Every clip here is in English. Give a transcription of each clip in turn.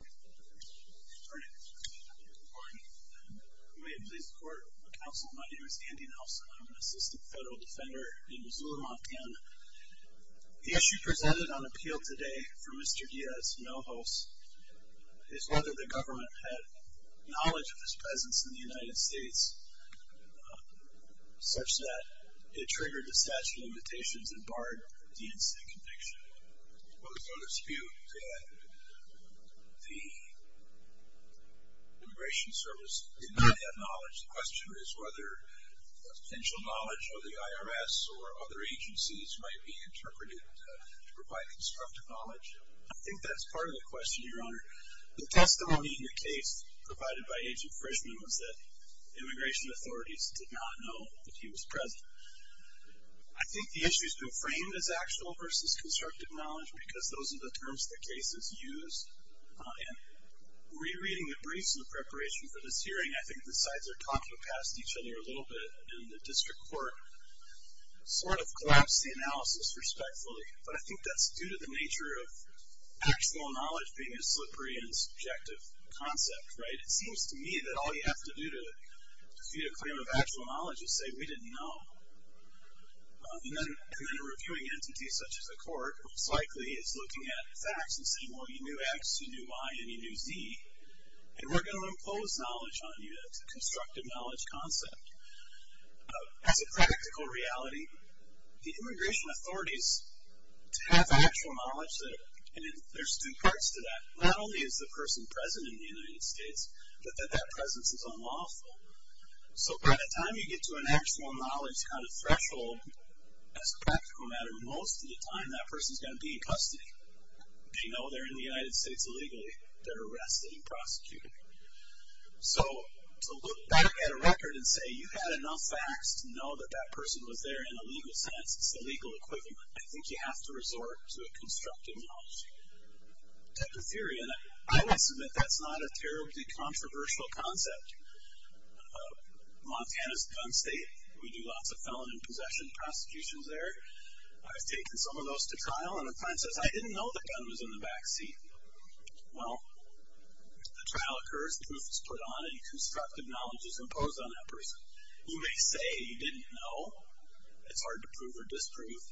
Good morning. May it please the court, my name is Andy Nelson. I'm an assistant federal defender in Missoula, Montana. The issue presented on appeal today for Mr. Diaz-Hinojos is whether the government had knowledge of his presence in the United States, such that it triggered the statute of limitations and barred the incident conviction. Well, there's no dispute that the Immigration Service did not have knowledge. The question is whether potential knowledge of the IRS or other agencies might be interpreted to provide constructive knowledge. I think that's part of the question, Your Honor. The testimony in the case provided by Agent Frischman was that immigration authorities did not know that he was present. I think the issue has been framed as actual versus constructive knowledge because those are the terms that cases use. In re-reading the briefs in preparation for this hearing, I think the sides are talking past each other a little bit, and the district court sort of collapsed the analysis respectfully. But I think that's due to the nature of actual knowledge being a slippery and subjective concept, right? It seems to me that all you have to do to feed a claim of actual knowledge is say, we didn't know. And then reviewing entities such as the court most likely is looking at facts and saying, well, you knew X, you knew Y, and you knew Z, and we're going to impose knowledge on you. That's a constructive knowledge concept. As a practical reality, the immigration authorities have actual knowledge, and there's two parts to that. Not only is the person present in the United States, but that that presence is unlawful. So by the time you get to an actual knowledge kind of threshold, as a practical matter, most of the time that person is going to be in custody. They know they're in the United States illegally. They're arrested and prosecuted. So to look back at a record and say you had enough facts to know that that person was there in a legal sense, it's the legal equivalent, I think you have to resort to a constructive knowledge. That's a theory, and I would submit that's not a terribly controversial concept. Montana's a gun state. We do lots of felon and possession prosecutions there. I've taken some of those to trial, and a client says, I didn't know the gun was in the back seat. Well, the trial occurs, the proof is put on, and constructive knowledge is imposed on that person. You may say you didn't know. It's hard to prove or disprove.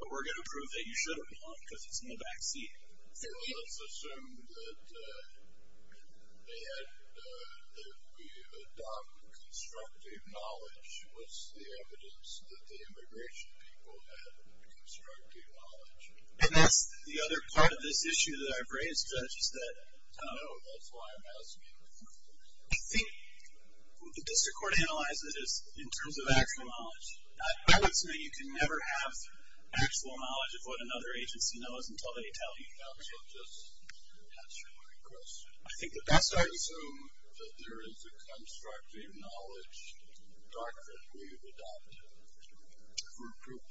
But we're going to prove that you should have known because it's in the back seat. Let's assume that they had, if we adopt constructive knowledge, what's the evidence that the immigration people had constructive knowledge? And that's the other part of this issue that I've raised, just that. I know, that's why I'm asking. I think the district court analyzes this in terms of actual knowledge. I would submit you can never have actual knowledge of what another agency knows until they tell you. I'll just answer my question. Let's assume that there is a constructive knowledge doctrine we've adopted for proof.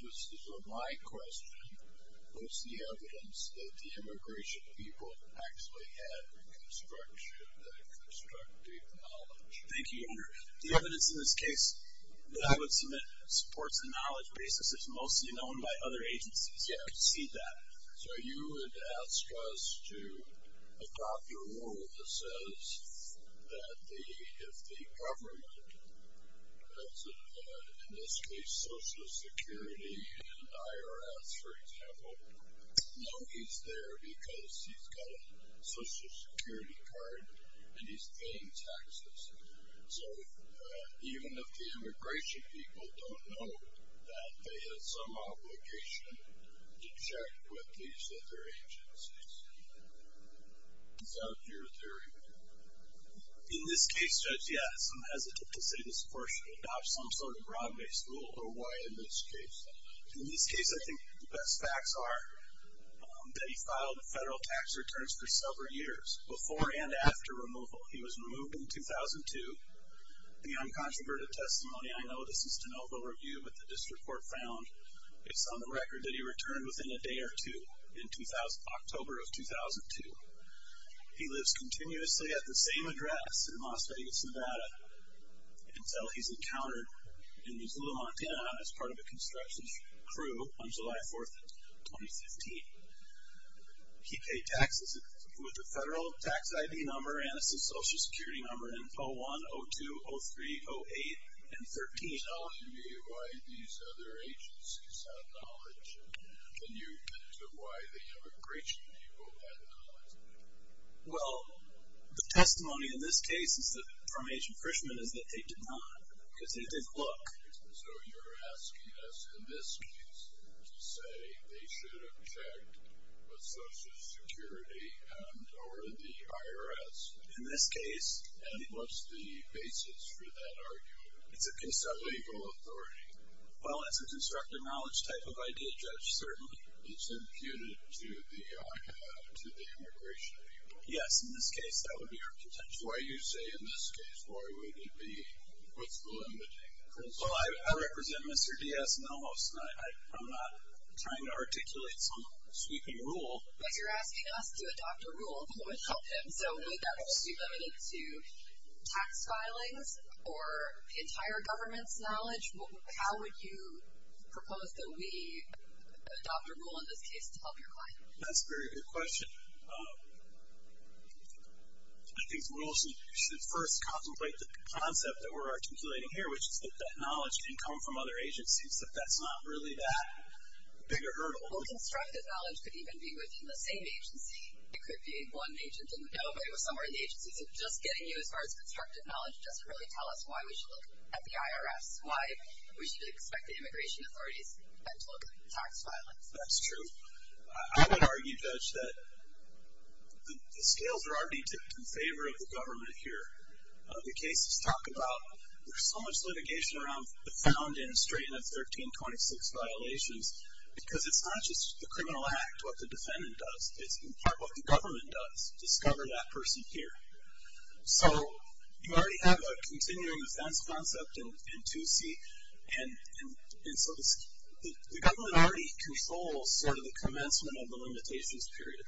My question, what's the evidence that the immigration people actually had constructive knowledge? Thank you, Your Honor. The evidence in this case that I would submit supports the knowledge. Racism is mostly known by other agencies. You have to see that. So you would ask us to adopt your rule that says that if the government, in this case Social Security and IRS, for example, know he's there because he's got a Social Security card and he's paying taxes. So even if the immigration people don't know that, they have some obligation to check with these other agencies. Is that your theory? In this case, Judge, yes. I'm hesitant to say this, of course, to adopt some sort of broad-based rule, but why in this case? In this case, I think the best facts are that he filed federal tax returns for several years, before and after removal. He was removed in 2002. The uncontroverted testimony, I know this is de novo review, but the district court found it's on the record that he returned within a day or two in October of 2002. He lives continuously at the same address in Las Vegas, Nevada, until he's encountered in Missoula, Montana, as part of a construction crew on July 4th, 2015. He paid taxes with a federal tax ID number and a Social Security number in 01, 02, 03, 08, and 13. You're telling me why these other agencies have knowledge, and you mentioned why the immigration people had knowledge. Well, the testimony in this case from Agent Fishman is that they did not, because they didn't look. So you're asking us, in this case, to say they should have checked with Social Security or the IRS. In this case. And what's the basis for that argument? It's a case of legal authority. Well, that's a constructive knowledge type of idea, Judge, certainly. It's imputed to the immigration people. Yes, in this case, that would be our contention. That's why you say, in this case, why would it be? What's the limiting principle? Well, I represent Mr. Diaz and Almos, and I'm not trying to articulate some sweeping rule. But you're asking us to adopt a rule that would help him. So would that rule be limited to tax filings or entire government's knowledge? How would you propose that we adopt a rule in this case to help your client? That's a very good question. I think the rule should first contemplate the concept that we're articulating here, which is that that knowledge can come from other agencies, that that's not really that big a hurdle. Well, constructive knowledge could even be within the same agency. It could be one agent and nobody was somewhere in the agency. So just getting you as far as constructive knowledge doesn't really tell us why we should look at the IRS, why we should expect the immigration authorities to look at tax filings. That's true. I would argue, Judge, that the scales are already in favor of the government here. The cases talk about there's so much litigation around the found and straightened of 1326 violations because it's not just the criminal act, what the defendant does, it's in part what the government does, discover that person here. So you already have a continuing offense concept in 2C, and so the government already controls sort of the commencement of the limitations period.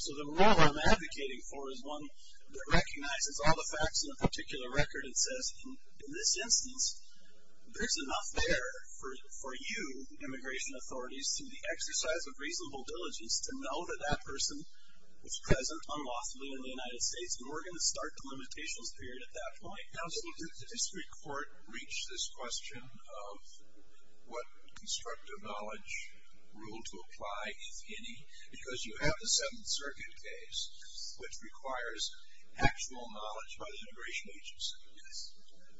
So the rule I'm advocating for is one that recognizes all the facts in a particular record and says, in this instance, there's enough there for you, immigration authorities, through the exercise of reasonable diligence, to know that that person was present unlawfully in the United States, and we're going to start the limitations period at that point. Counsel, did the district court reach this question of what constructive knowledge rule to apply, if any? Because you have the Seventh Circuit case, which requires actual knowledge by the immigration agency. Yes.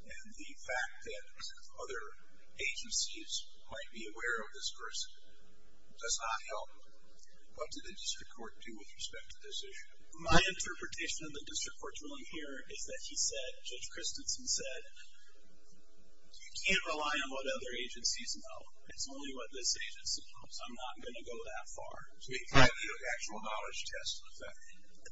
And the fact that other agencies might be aware of this person does not help. What did the district court do with respect to this issue? My interpretation of the district court's ruling here is that he said, Judge Christensen said, you can't rely on what other agencies know. It's only what this agency knows. I'm not going to go that far. So he gave you an actual knowledge test, in effect.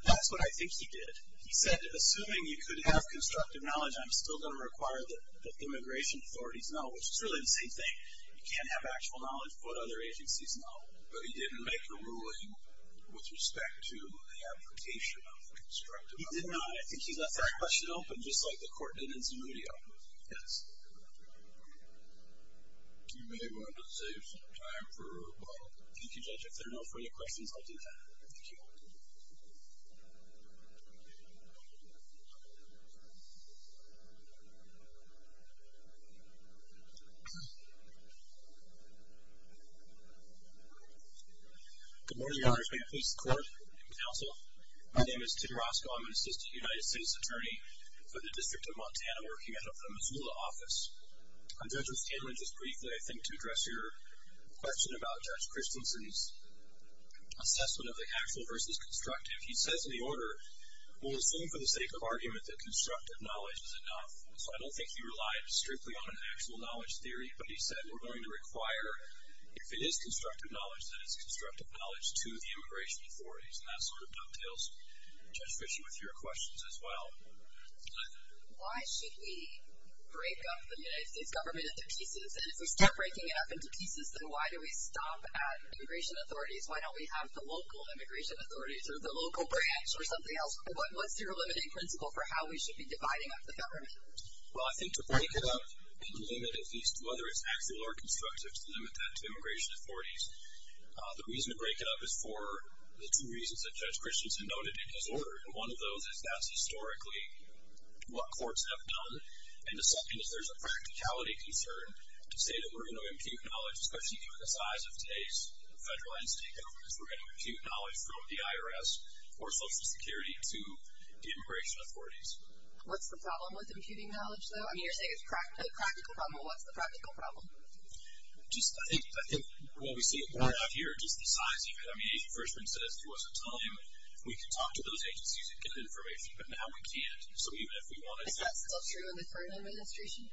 That's what I think he did. He said, assuming you could have constructive knowledge, I'm still going to require that immigration authorities know, which is really the same thing. You can't have actual knowledge of what other agencies know. But he didn't make a ruling with respect to the application of constructive knowledge. He did not. I think he left that question open, just like the court did in Zamudio. Yes. You may want to save some time for a follow-up. Thank you, Judge. If there are no further questions, I'll do that. Thank you. Good morning, Your Honors. May it please the Court and Counsel. My name is Tim Roscoe. I'm an Assistant United States Attorney for the District of Montana, working out of the Missoula office. I'm here just briefly, I think, to address your question about Judge Christensen's assessment of the actual versus constructive. He says in the order, we'll assume for the sake of argument that constructive knowledge is enough. So I don't think he relied strictly on an actual knowledge theory. But he said we're going to require, if it is constructive knowledge, that it's constructive knowledge to the immigration authorities. And that sort of dovetails, Judge Fischer, with your questions as well. Why should we break up the United States government into pieces? And if we start breaking it up into pieces, then why do we stop at immigration authorities? Why don't we have the local immigration authorities or the local branch or something else? What's your limiting principle for how we should be dividing up the government? Well, I think to break it up and limit at least whether it's actual or constructive, to limit that to immigration authorities, the reason to break it up is for the two reasons that Judge Christensen noted in his order. And one of those is that's historically what courts have done. And the second is there's a practicality concern to say that we're going to impute knowledge, especially given the size of today's federal and state governments, we're going to impute knowledge from the IRS or Social Security to the immigration authorities. What's the problem with imputing knowledge, though? I mean, you're saying it's a practical problem. What's the practical problem? I think what we see out here, just the size even. I mean, Agent Fershman says to us at the time, we can talk to those agencies and get information, but now we can't. So even if we wanted to. Is that still true in the current administration?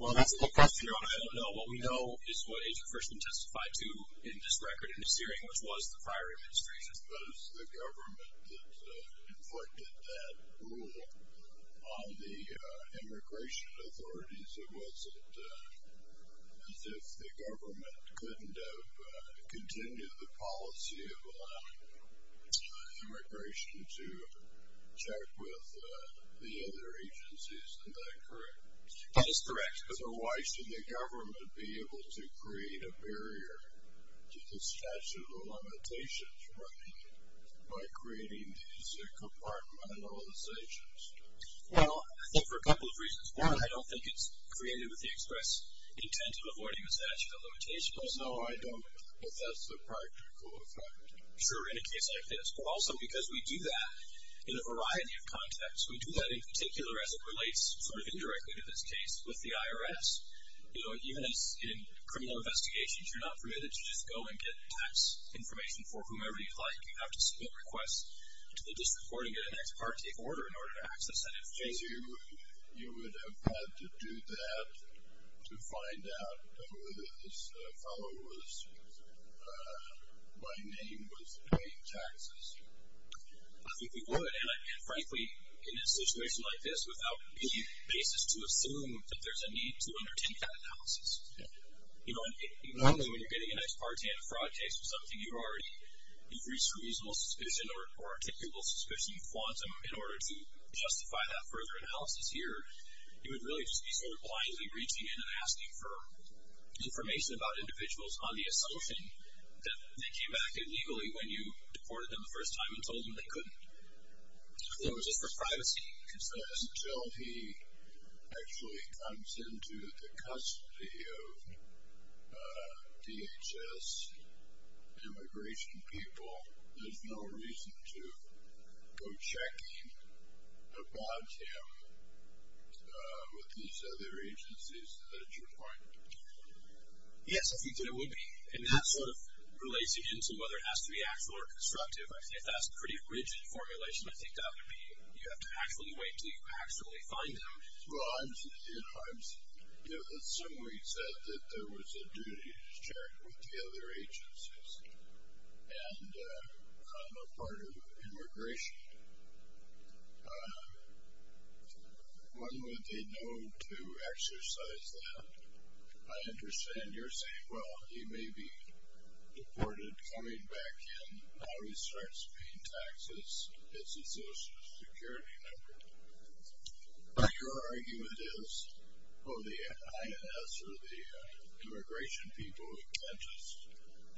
Well, that's the question. I don't know. What we know is what Agent Fershman testified to in this record in this hearing, which was the prior administration. I suppose the government that inflicted that rule on the immigration authorities, it wasn't as if the government couldn't have continued the policy of allowing immigration to check with the other agencies. Isn't that correct? That is correct. So why should the government be able to create a barrier to the statute of limitations by creating these compartmentalizations? Well, I think for a couple of reasons. One, I don't think it's created with the express intent of avoiding the statute of limitations. No, I don't. But that's the practical effect. Sure, in a case like this. But also because we do that in a variety of contexts. We do that in particular as it relates sort of indirectly to this case with the IRS. You know, even in criminal investigations, you're not permitted to just go and get tax information for whomever you'd like. You have to submit requests to the district court and get an ex parte order in order to access that information. You would have had to do that to find out whether this fellow was, by name, was paying taxes? I think we would. And, frankly, in a situation like this, without any basis to assume that there's a need to undertake that analysis. Normally when you're getting an ex parte in a fraud case or something, you've already reached a reasonable suspicion or a typical suspicion quantum in order to justify that further analysis here. You would really just be sort of blindly reaching in and asking for information about individuals on the assumption that they came back illegally when you deported them the first time and told them they couldn't. So it was just for privacy. Until he actually comes into the custody of DHS immigration people, there's no reason to go checking upon him with these other agencies. Is that at your point? Yes, I think that it would be. And that sort of relates again to whether it has to be actual or constructive. I think that's a pretty rigid formulation. I think that would be you have to actually wait until you actually find them. Well, I'm assuming you said that there was a duty to check with the other agencies and become a part of immigration. When would they know to exercise that? I understand you're saying, well, he may be deported coming back in while he starts paying taxes. It's a Social Security number. But your argument is, oh, the INS or the immigration people can't just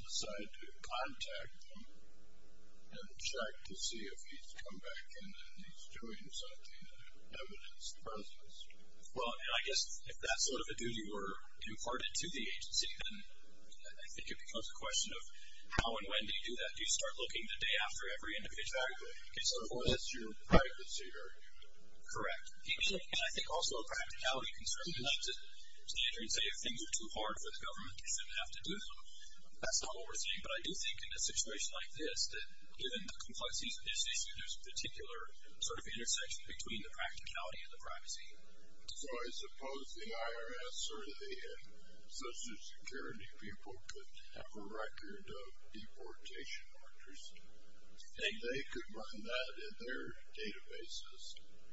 decide to contact them and check to see if he's come back in and he's doing something that evidenced the presence. Well, and I guess if that sort of a duty were imparted to the agency, then I think it becomes a question of how and when do you do that? Do you start looking the day after every individual? Exactly. So, of course, that's your privacy argument. And I think also a practicality concern. You don't have to stand here and say if things are too hard for the government, you shouldn't have to do them. That's not what we're saying. But I do think in a situation like this, that given the complexities of this issue, there's a particular sort of intersection between the practicality and the privacy. So I suppose the IRS or the Social Security people could have a record of deportation accuracy. And they could run that in their databases,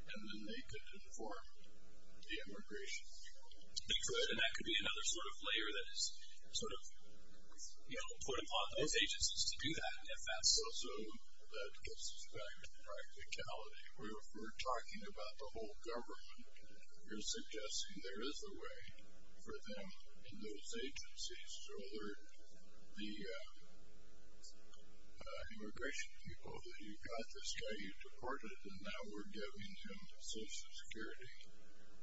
and then they could inform the immigration people. And that could be another sort of layer that is sort of put upon those agencies to do that, if that's true. I guess also that gets back to the practicality. If we're talking about the whole government, you're suggesting there is a way for them and those agencies to alert the immigration people that you've got this guy, you've deported him, now we're giving him the Social Security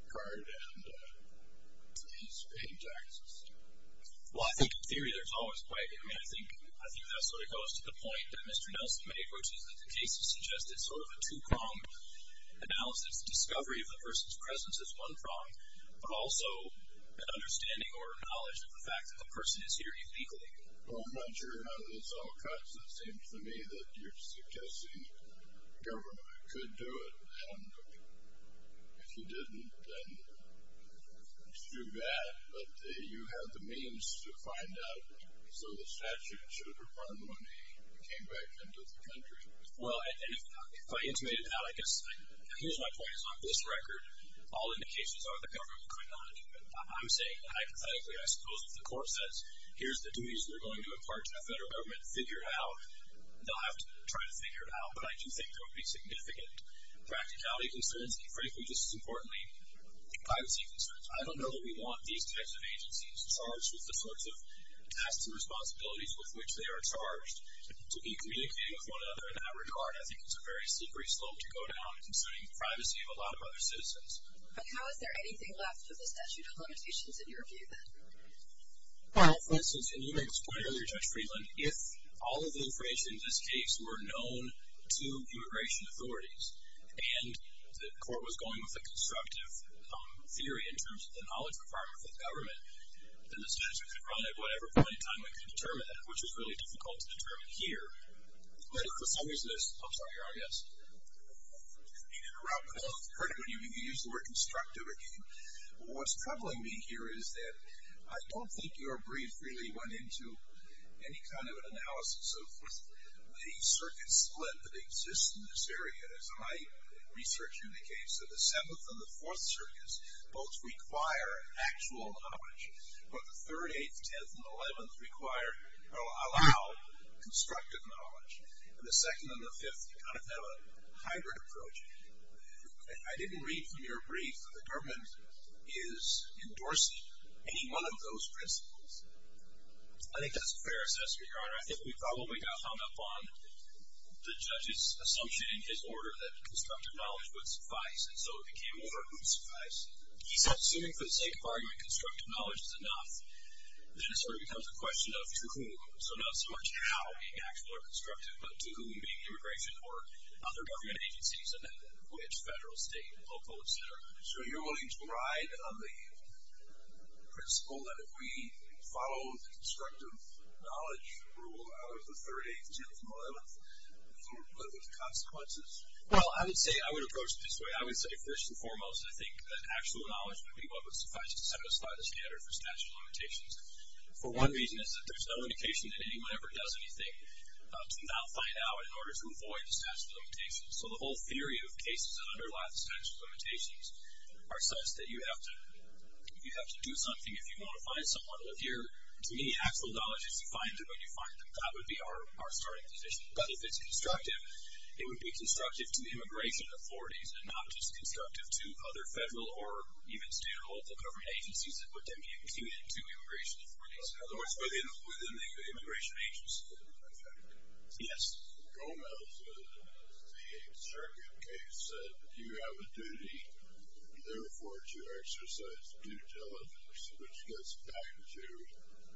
card and he's paid taxes. Well, I think in theory there's always a way. I mean, I think that sort of goes to the point that Mr. Nelson made, which is that the case has suggested sort of a two-pronged analysis, discovery of the person's presence is one prong, but also an understanding or knowledge of the fact that the person is here illegally. Well, I'm not sure how this all cuts. It seems to me that you're suggesting government could do it. And if you didn't, then it's too bad. But you have the means to find out. So the statute should have required money to come back into the country. Well, if I intimated that, I guess here's my point is on this record, all indications are the government could not do it. I'm saying hypothetically, I suppose if the court says, here's the duties we're going to impart to the federal government, figure out, they'll have to try to figure it out. But I do think there would be significant practicality concerns, and frankly, just as importantly, privacy concerns. I don't know that we want these types of agencies charged with the sorts of tasks and responsibilities with which they are charged to be communicating with one another in that regard. I think it's a very slippery slope to go down, considering the privacy of a lot of other citizens. But how is there anything left of the statute of limitations in your view, then? Well, for instance, and you made this point earlier, Judge Friedland, if all of the information in this case were known to immigration authorities and the court was going with a constructive theory in terms of the knowledge requirement for the government, then the statute could run at whatever point in time we could determine it, which is really difficult to determine here. But if for some reason this – I'm sorry, Your Honor, yes? I'm going to interrupt. I heard it when you used the word constructive again. What's troubling me here is that I don't think your brief really went into any kind of an analysis of the circuit split that exists in this area, as my research indicates. So the Seventh and the Fourth Circuits both require actual knowledge, but the Third, Eighth, Tenth, and Eleventh require or allow constructive knowledge, and the Second and the Fifth kind of have a hybrid approach. I didn't read from your brief that the government is endorsing any one of those principles. I think that's fair, Assessor, Your Honor. If we follow what we got hung up on, the judge's assumption in his order that constructive knowledge would suffice, and so it became over who would suffice. He said assuming for the sake of argument constructive knowledge is enough, then it sort of becomes a question of to whom. So not so much how the actual or constructive, but to whom, being immigration or other government agencies and which federal, state, local, etc. So you're willing to ride on the principle that if we follow the constructive knowledge rule, out of the Third, Eighth, Tenth, and Eleventh, what are the consequences? Well, I would say I would approach it this way. I would say, first and foremost, I think that actual knowledge would be what would suffice to satisfy the standard for statute of limitations. For one reason, it's that there's no indication that anyone ever does anything to not find out in order to avoid the statute of limitations. So the whole theory of cases that underlie the statute of limitations are such that you have to do something if you want to find someone. If you're, to me, actual knowledge is you find them when you find them. That would be our starting position. But if it's constructive, it would be constructive to the immigration authorities and not just constructive to other federal or even state or local government agencies that would then be immune to immigration authorities. In other words, within the immigration agency, in effect. Yes? Gomez in the Eighth Circuit case said you have a duty, therefore, to exercise due diligence, which gets back to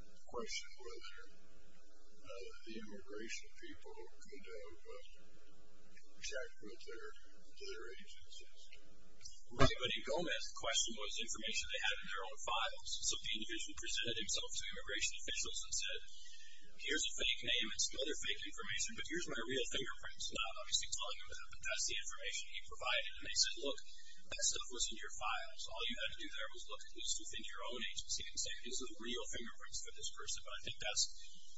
the question whether the immigration people could have checked with their agencies. Right, but in Gomez, the question was information they had in their own files. So the individual presented himself to immigration officials and said, here's a fake name and some other fake information, but here's my real fingerprints. Now, obviously telling them that that's the information he provided. And they said, look, that stuff was in your files. All you had to do there was look at this within your own agency and say these are the real fingerprints of this person. But I think that's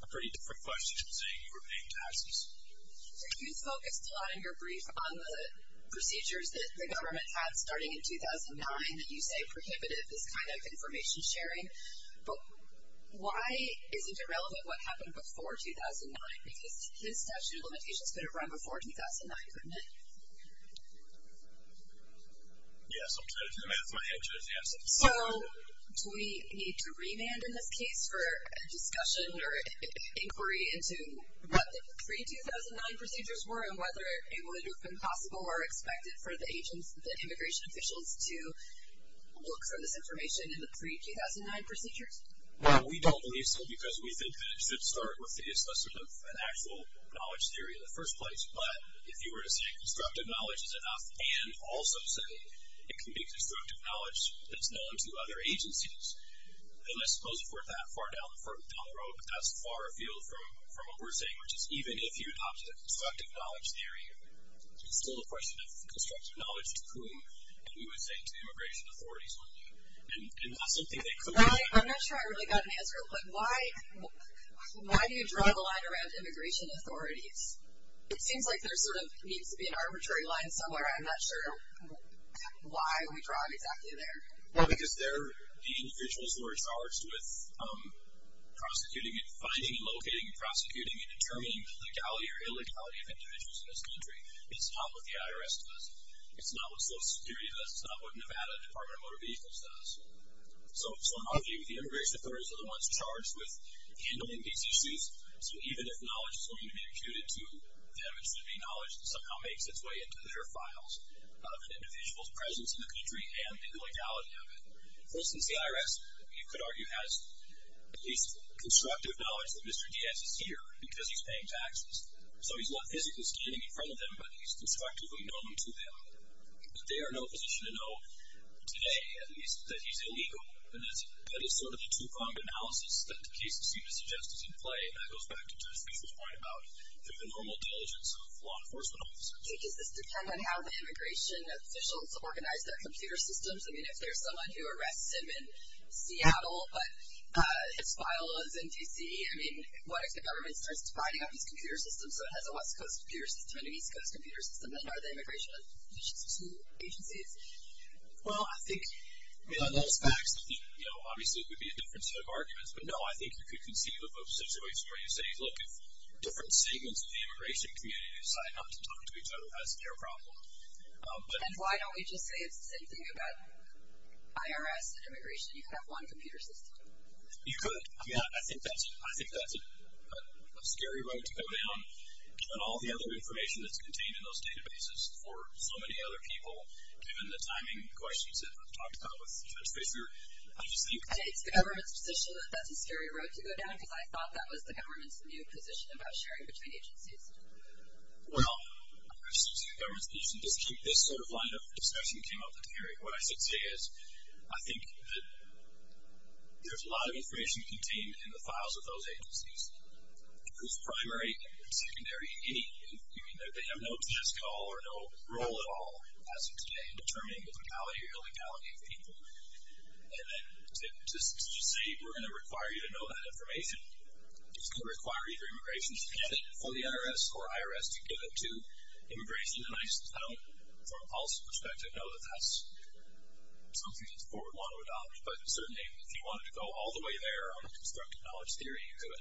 a pretty different question from saying you were paying taxes. So you focused a lot in your brief on the procedures that the government had starting in 2009 that you say prohibited this kind of information sharing. But why isn't it relevant what happened before 2009? Because his statute of limitations could have run before 2009, couldn't it? Yes, I'm trying to do the math. My answer is yes. So do we need to remand in this case for a discussion or inquiry into what the pre-2009 procedures were and whether it would have been possible or expected for the agents, the immigration officials, to look for this information in the pre-2009 procedures? We don't believe so because we think that it should start with an actual knowledge theory in the first place. But if you were to say constructive knowledge is enough and also say it can be constructive knowledge that's known to other agencies, then I suppose we're that far down the road. But that's far afield from what we're saying, which is even if you adopted a constructive knowledge theory, it's still a question of constructive knowledge to whom. And we would say to the immigration authorities, wouldn't we? And that's something that could be done. I'm not sure I really got an answer, but why do you draw the line around immigration authorities? It seems like there sort of needs to be an arbitrary line somewhere. I'm not sure why we draw it exactly there. Well, because they're the individuals who are charged with prosecuting and finding and locating and prosecuting and determining legality or illegality of individuals in this country. It's not what the IRS does. It's not what Social Security does. It's not what Nevada Department of Motor Vehicles does. So I'm arguing the immigration authorities are the ones charged with handling these issues. So even if knowledge is going to be imputed to them, it should be knowledge that somehow makes its way into their files of an individual's presence in the country and the legality of it. For instance, the IRS, you could argue, has at least constructive knowledge that Mr. Diaz is here because he's paying taxes. So he's not physically standing in front of them, but he's constructively known to them. But they are in no position to know today, at least, that he's illegal. And that is sort of the two-pronged analysis that the cases seem to suggest is in play, and that goes back to Jeff Bezos' point about the normal diligence of law enforcement officers. Does this depend on how the immigration officials organize their computer systems? I mean, if there's someone who arrests him in Seattle, but his file is in D.C., I mean, what if the government starts dividing up these computer systems so it has a West Coast computer system and an East Coast computer system, then are the immigration officials two agencies? Well, I think in those facts, obviously it would be a different set of arguments. But no, I think you could conceive of a situation where you say, look, if different segments of the immigration community decide not to talk to each other, that's their problem. And why don't we just say it's the same thing about IRS and immigration? You could have one computer system. You could. I mean, I think that's a scary road to go down. Given all the other information that's contained in those databases for so many other people, given the timing questions that we've talked about with Judge Fischer, I just think... I think it's the government's position that that's a scary road to go down because I thought that was the government's new position about sharing between agencies. Well, this sort of line of discussion came up at the hearing. What I should say is I think that there's a lot of information contained in the files of those agencies whose primary, secondary, any... I mean, they have no task at all or no role at all as of today in determining the locality or illegality of people. And then to say we're going to require you to know that information is going to require you for immigration to get it for the IRS or IRS to give it to immigration. And I don't, from a policy perspective, know that that's something that's a forward one to adopt. But certainly, if you wanted to go all the way there on the constructive knowledge theory, you could.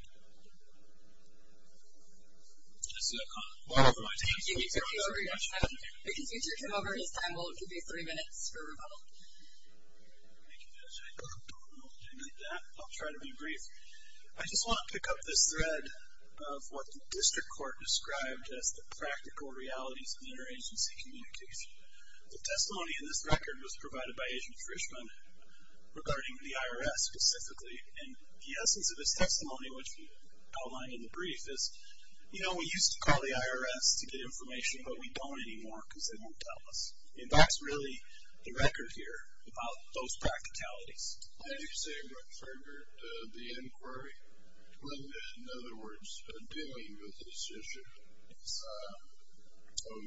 And this is a comment from one of my team. You can take over your time. If you can take over your time, we'll give you three minutes for a rebuttal. Thank you, Judge. I don't know if I need that. I'll try to be brief. I just want to pick up this thread of what the district court described as the practical realities of interagency communication. The testimony in this record was provided by Agent Frischman regarding the IRS specifically. And the essence of his testimony, which we outlined in the brief, is, you know, we used to call the IRS to get information, but we don't anymore because they won't tell us. And that's really the record here about those practicalities. Let me say what triggered the inquiry. In other words, dealing with this issue of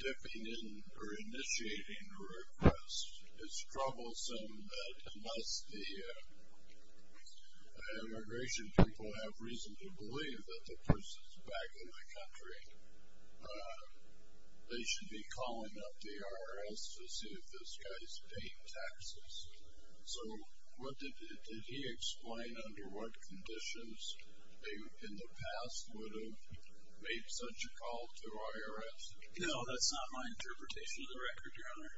dipping in or initiating a request. It's troublesome that unless the immigration people have reason to believe that the person's back in the country, they should be calling up the IRS to see if this guy's paying taxes. So what did he explain under what conditions they, in the past, would have made such a call to IRS? No, that's not my interpretation of the record, Your Honor.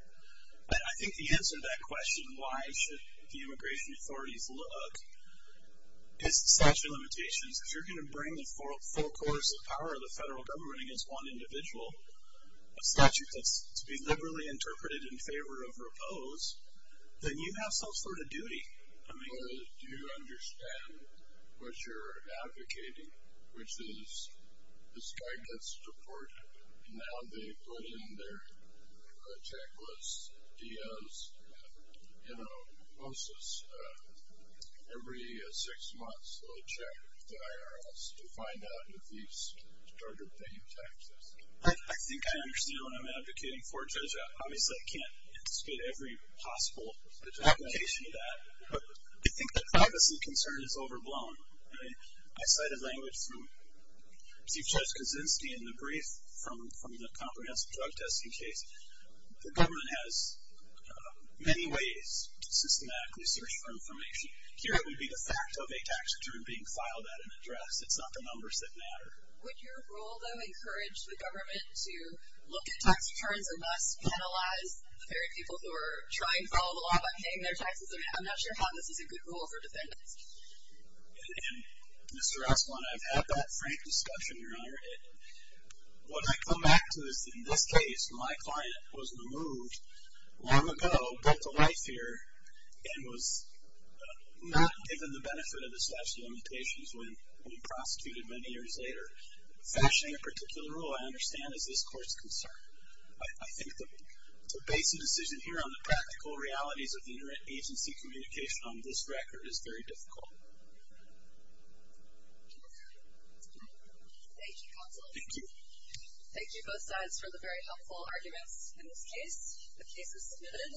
I think the answer to that question, why should the immigration authorities look, is the statute of limitations. If you're going to bring the full course of power of the federal government against one individual, a statute that's to be liberally interpreted in favor of or opposed, then you have some sort of duty. I mean. Do you understand what you're advocating, which is this guy gets deported, and now they put in their checklists, DOs, you know, and also every six months they'll check with the IRS to find out if he's started paying taxes. I think I understand what I'm advocating for. Obviously, I can't speak to every possible application of that. I think the privacy concern is overblown. I cite a language from Chief Judge Kaczynski in the brief from the comprehensive drug testing case. The government has many ways to systematically search for information. Here it would be the fact of a tax return being filed at an address. It's not the numbers that matter. Would your rule, though, encourage the government to look at tax returns and thus penalize the very people who are trying to follow the law by paying their taxes? I'm not sure how this is a good rule for defendants. Mr. Asplund, I've had that frank discussion, Your Honor. When I come back to this, in this case, my client was removed long ago, built a life here, and was not given the benefit of the statute of limitations when he was prosecuted many years later. Fashioning a particular rule, I understand, is this court's concern. I think to base a decision here on the practical realities of the inherent agency communication on this record is very difficult. Thank you, counsel. Thank you. Thank you, both sides, for the very helpful arguments in this case. The case is submitted.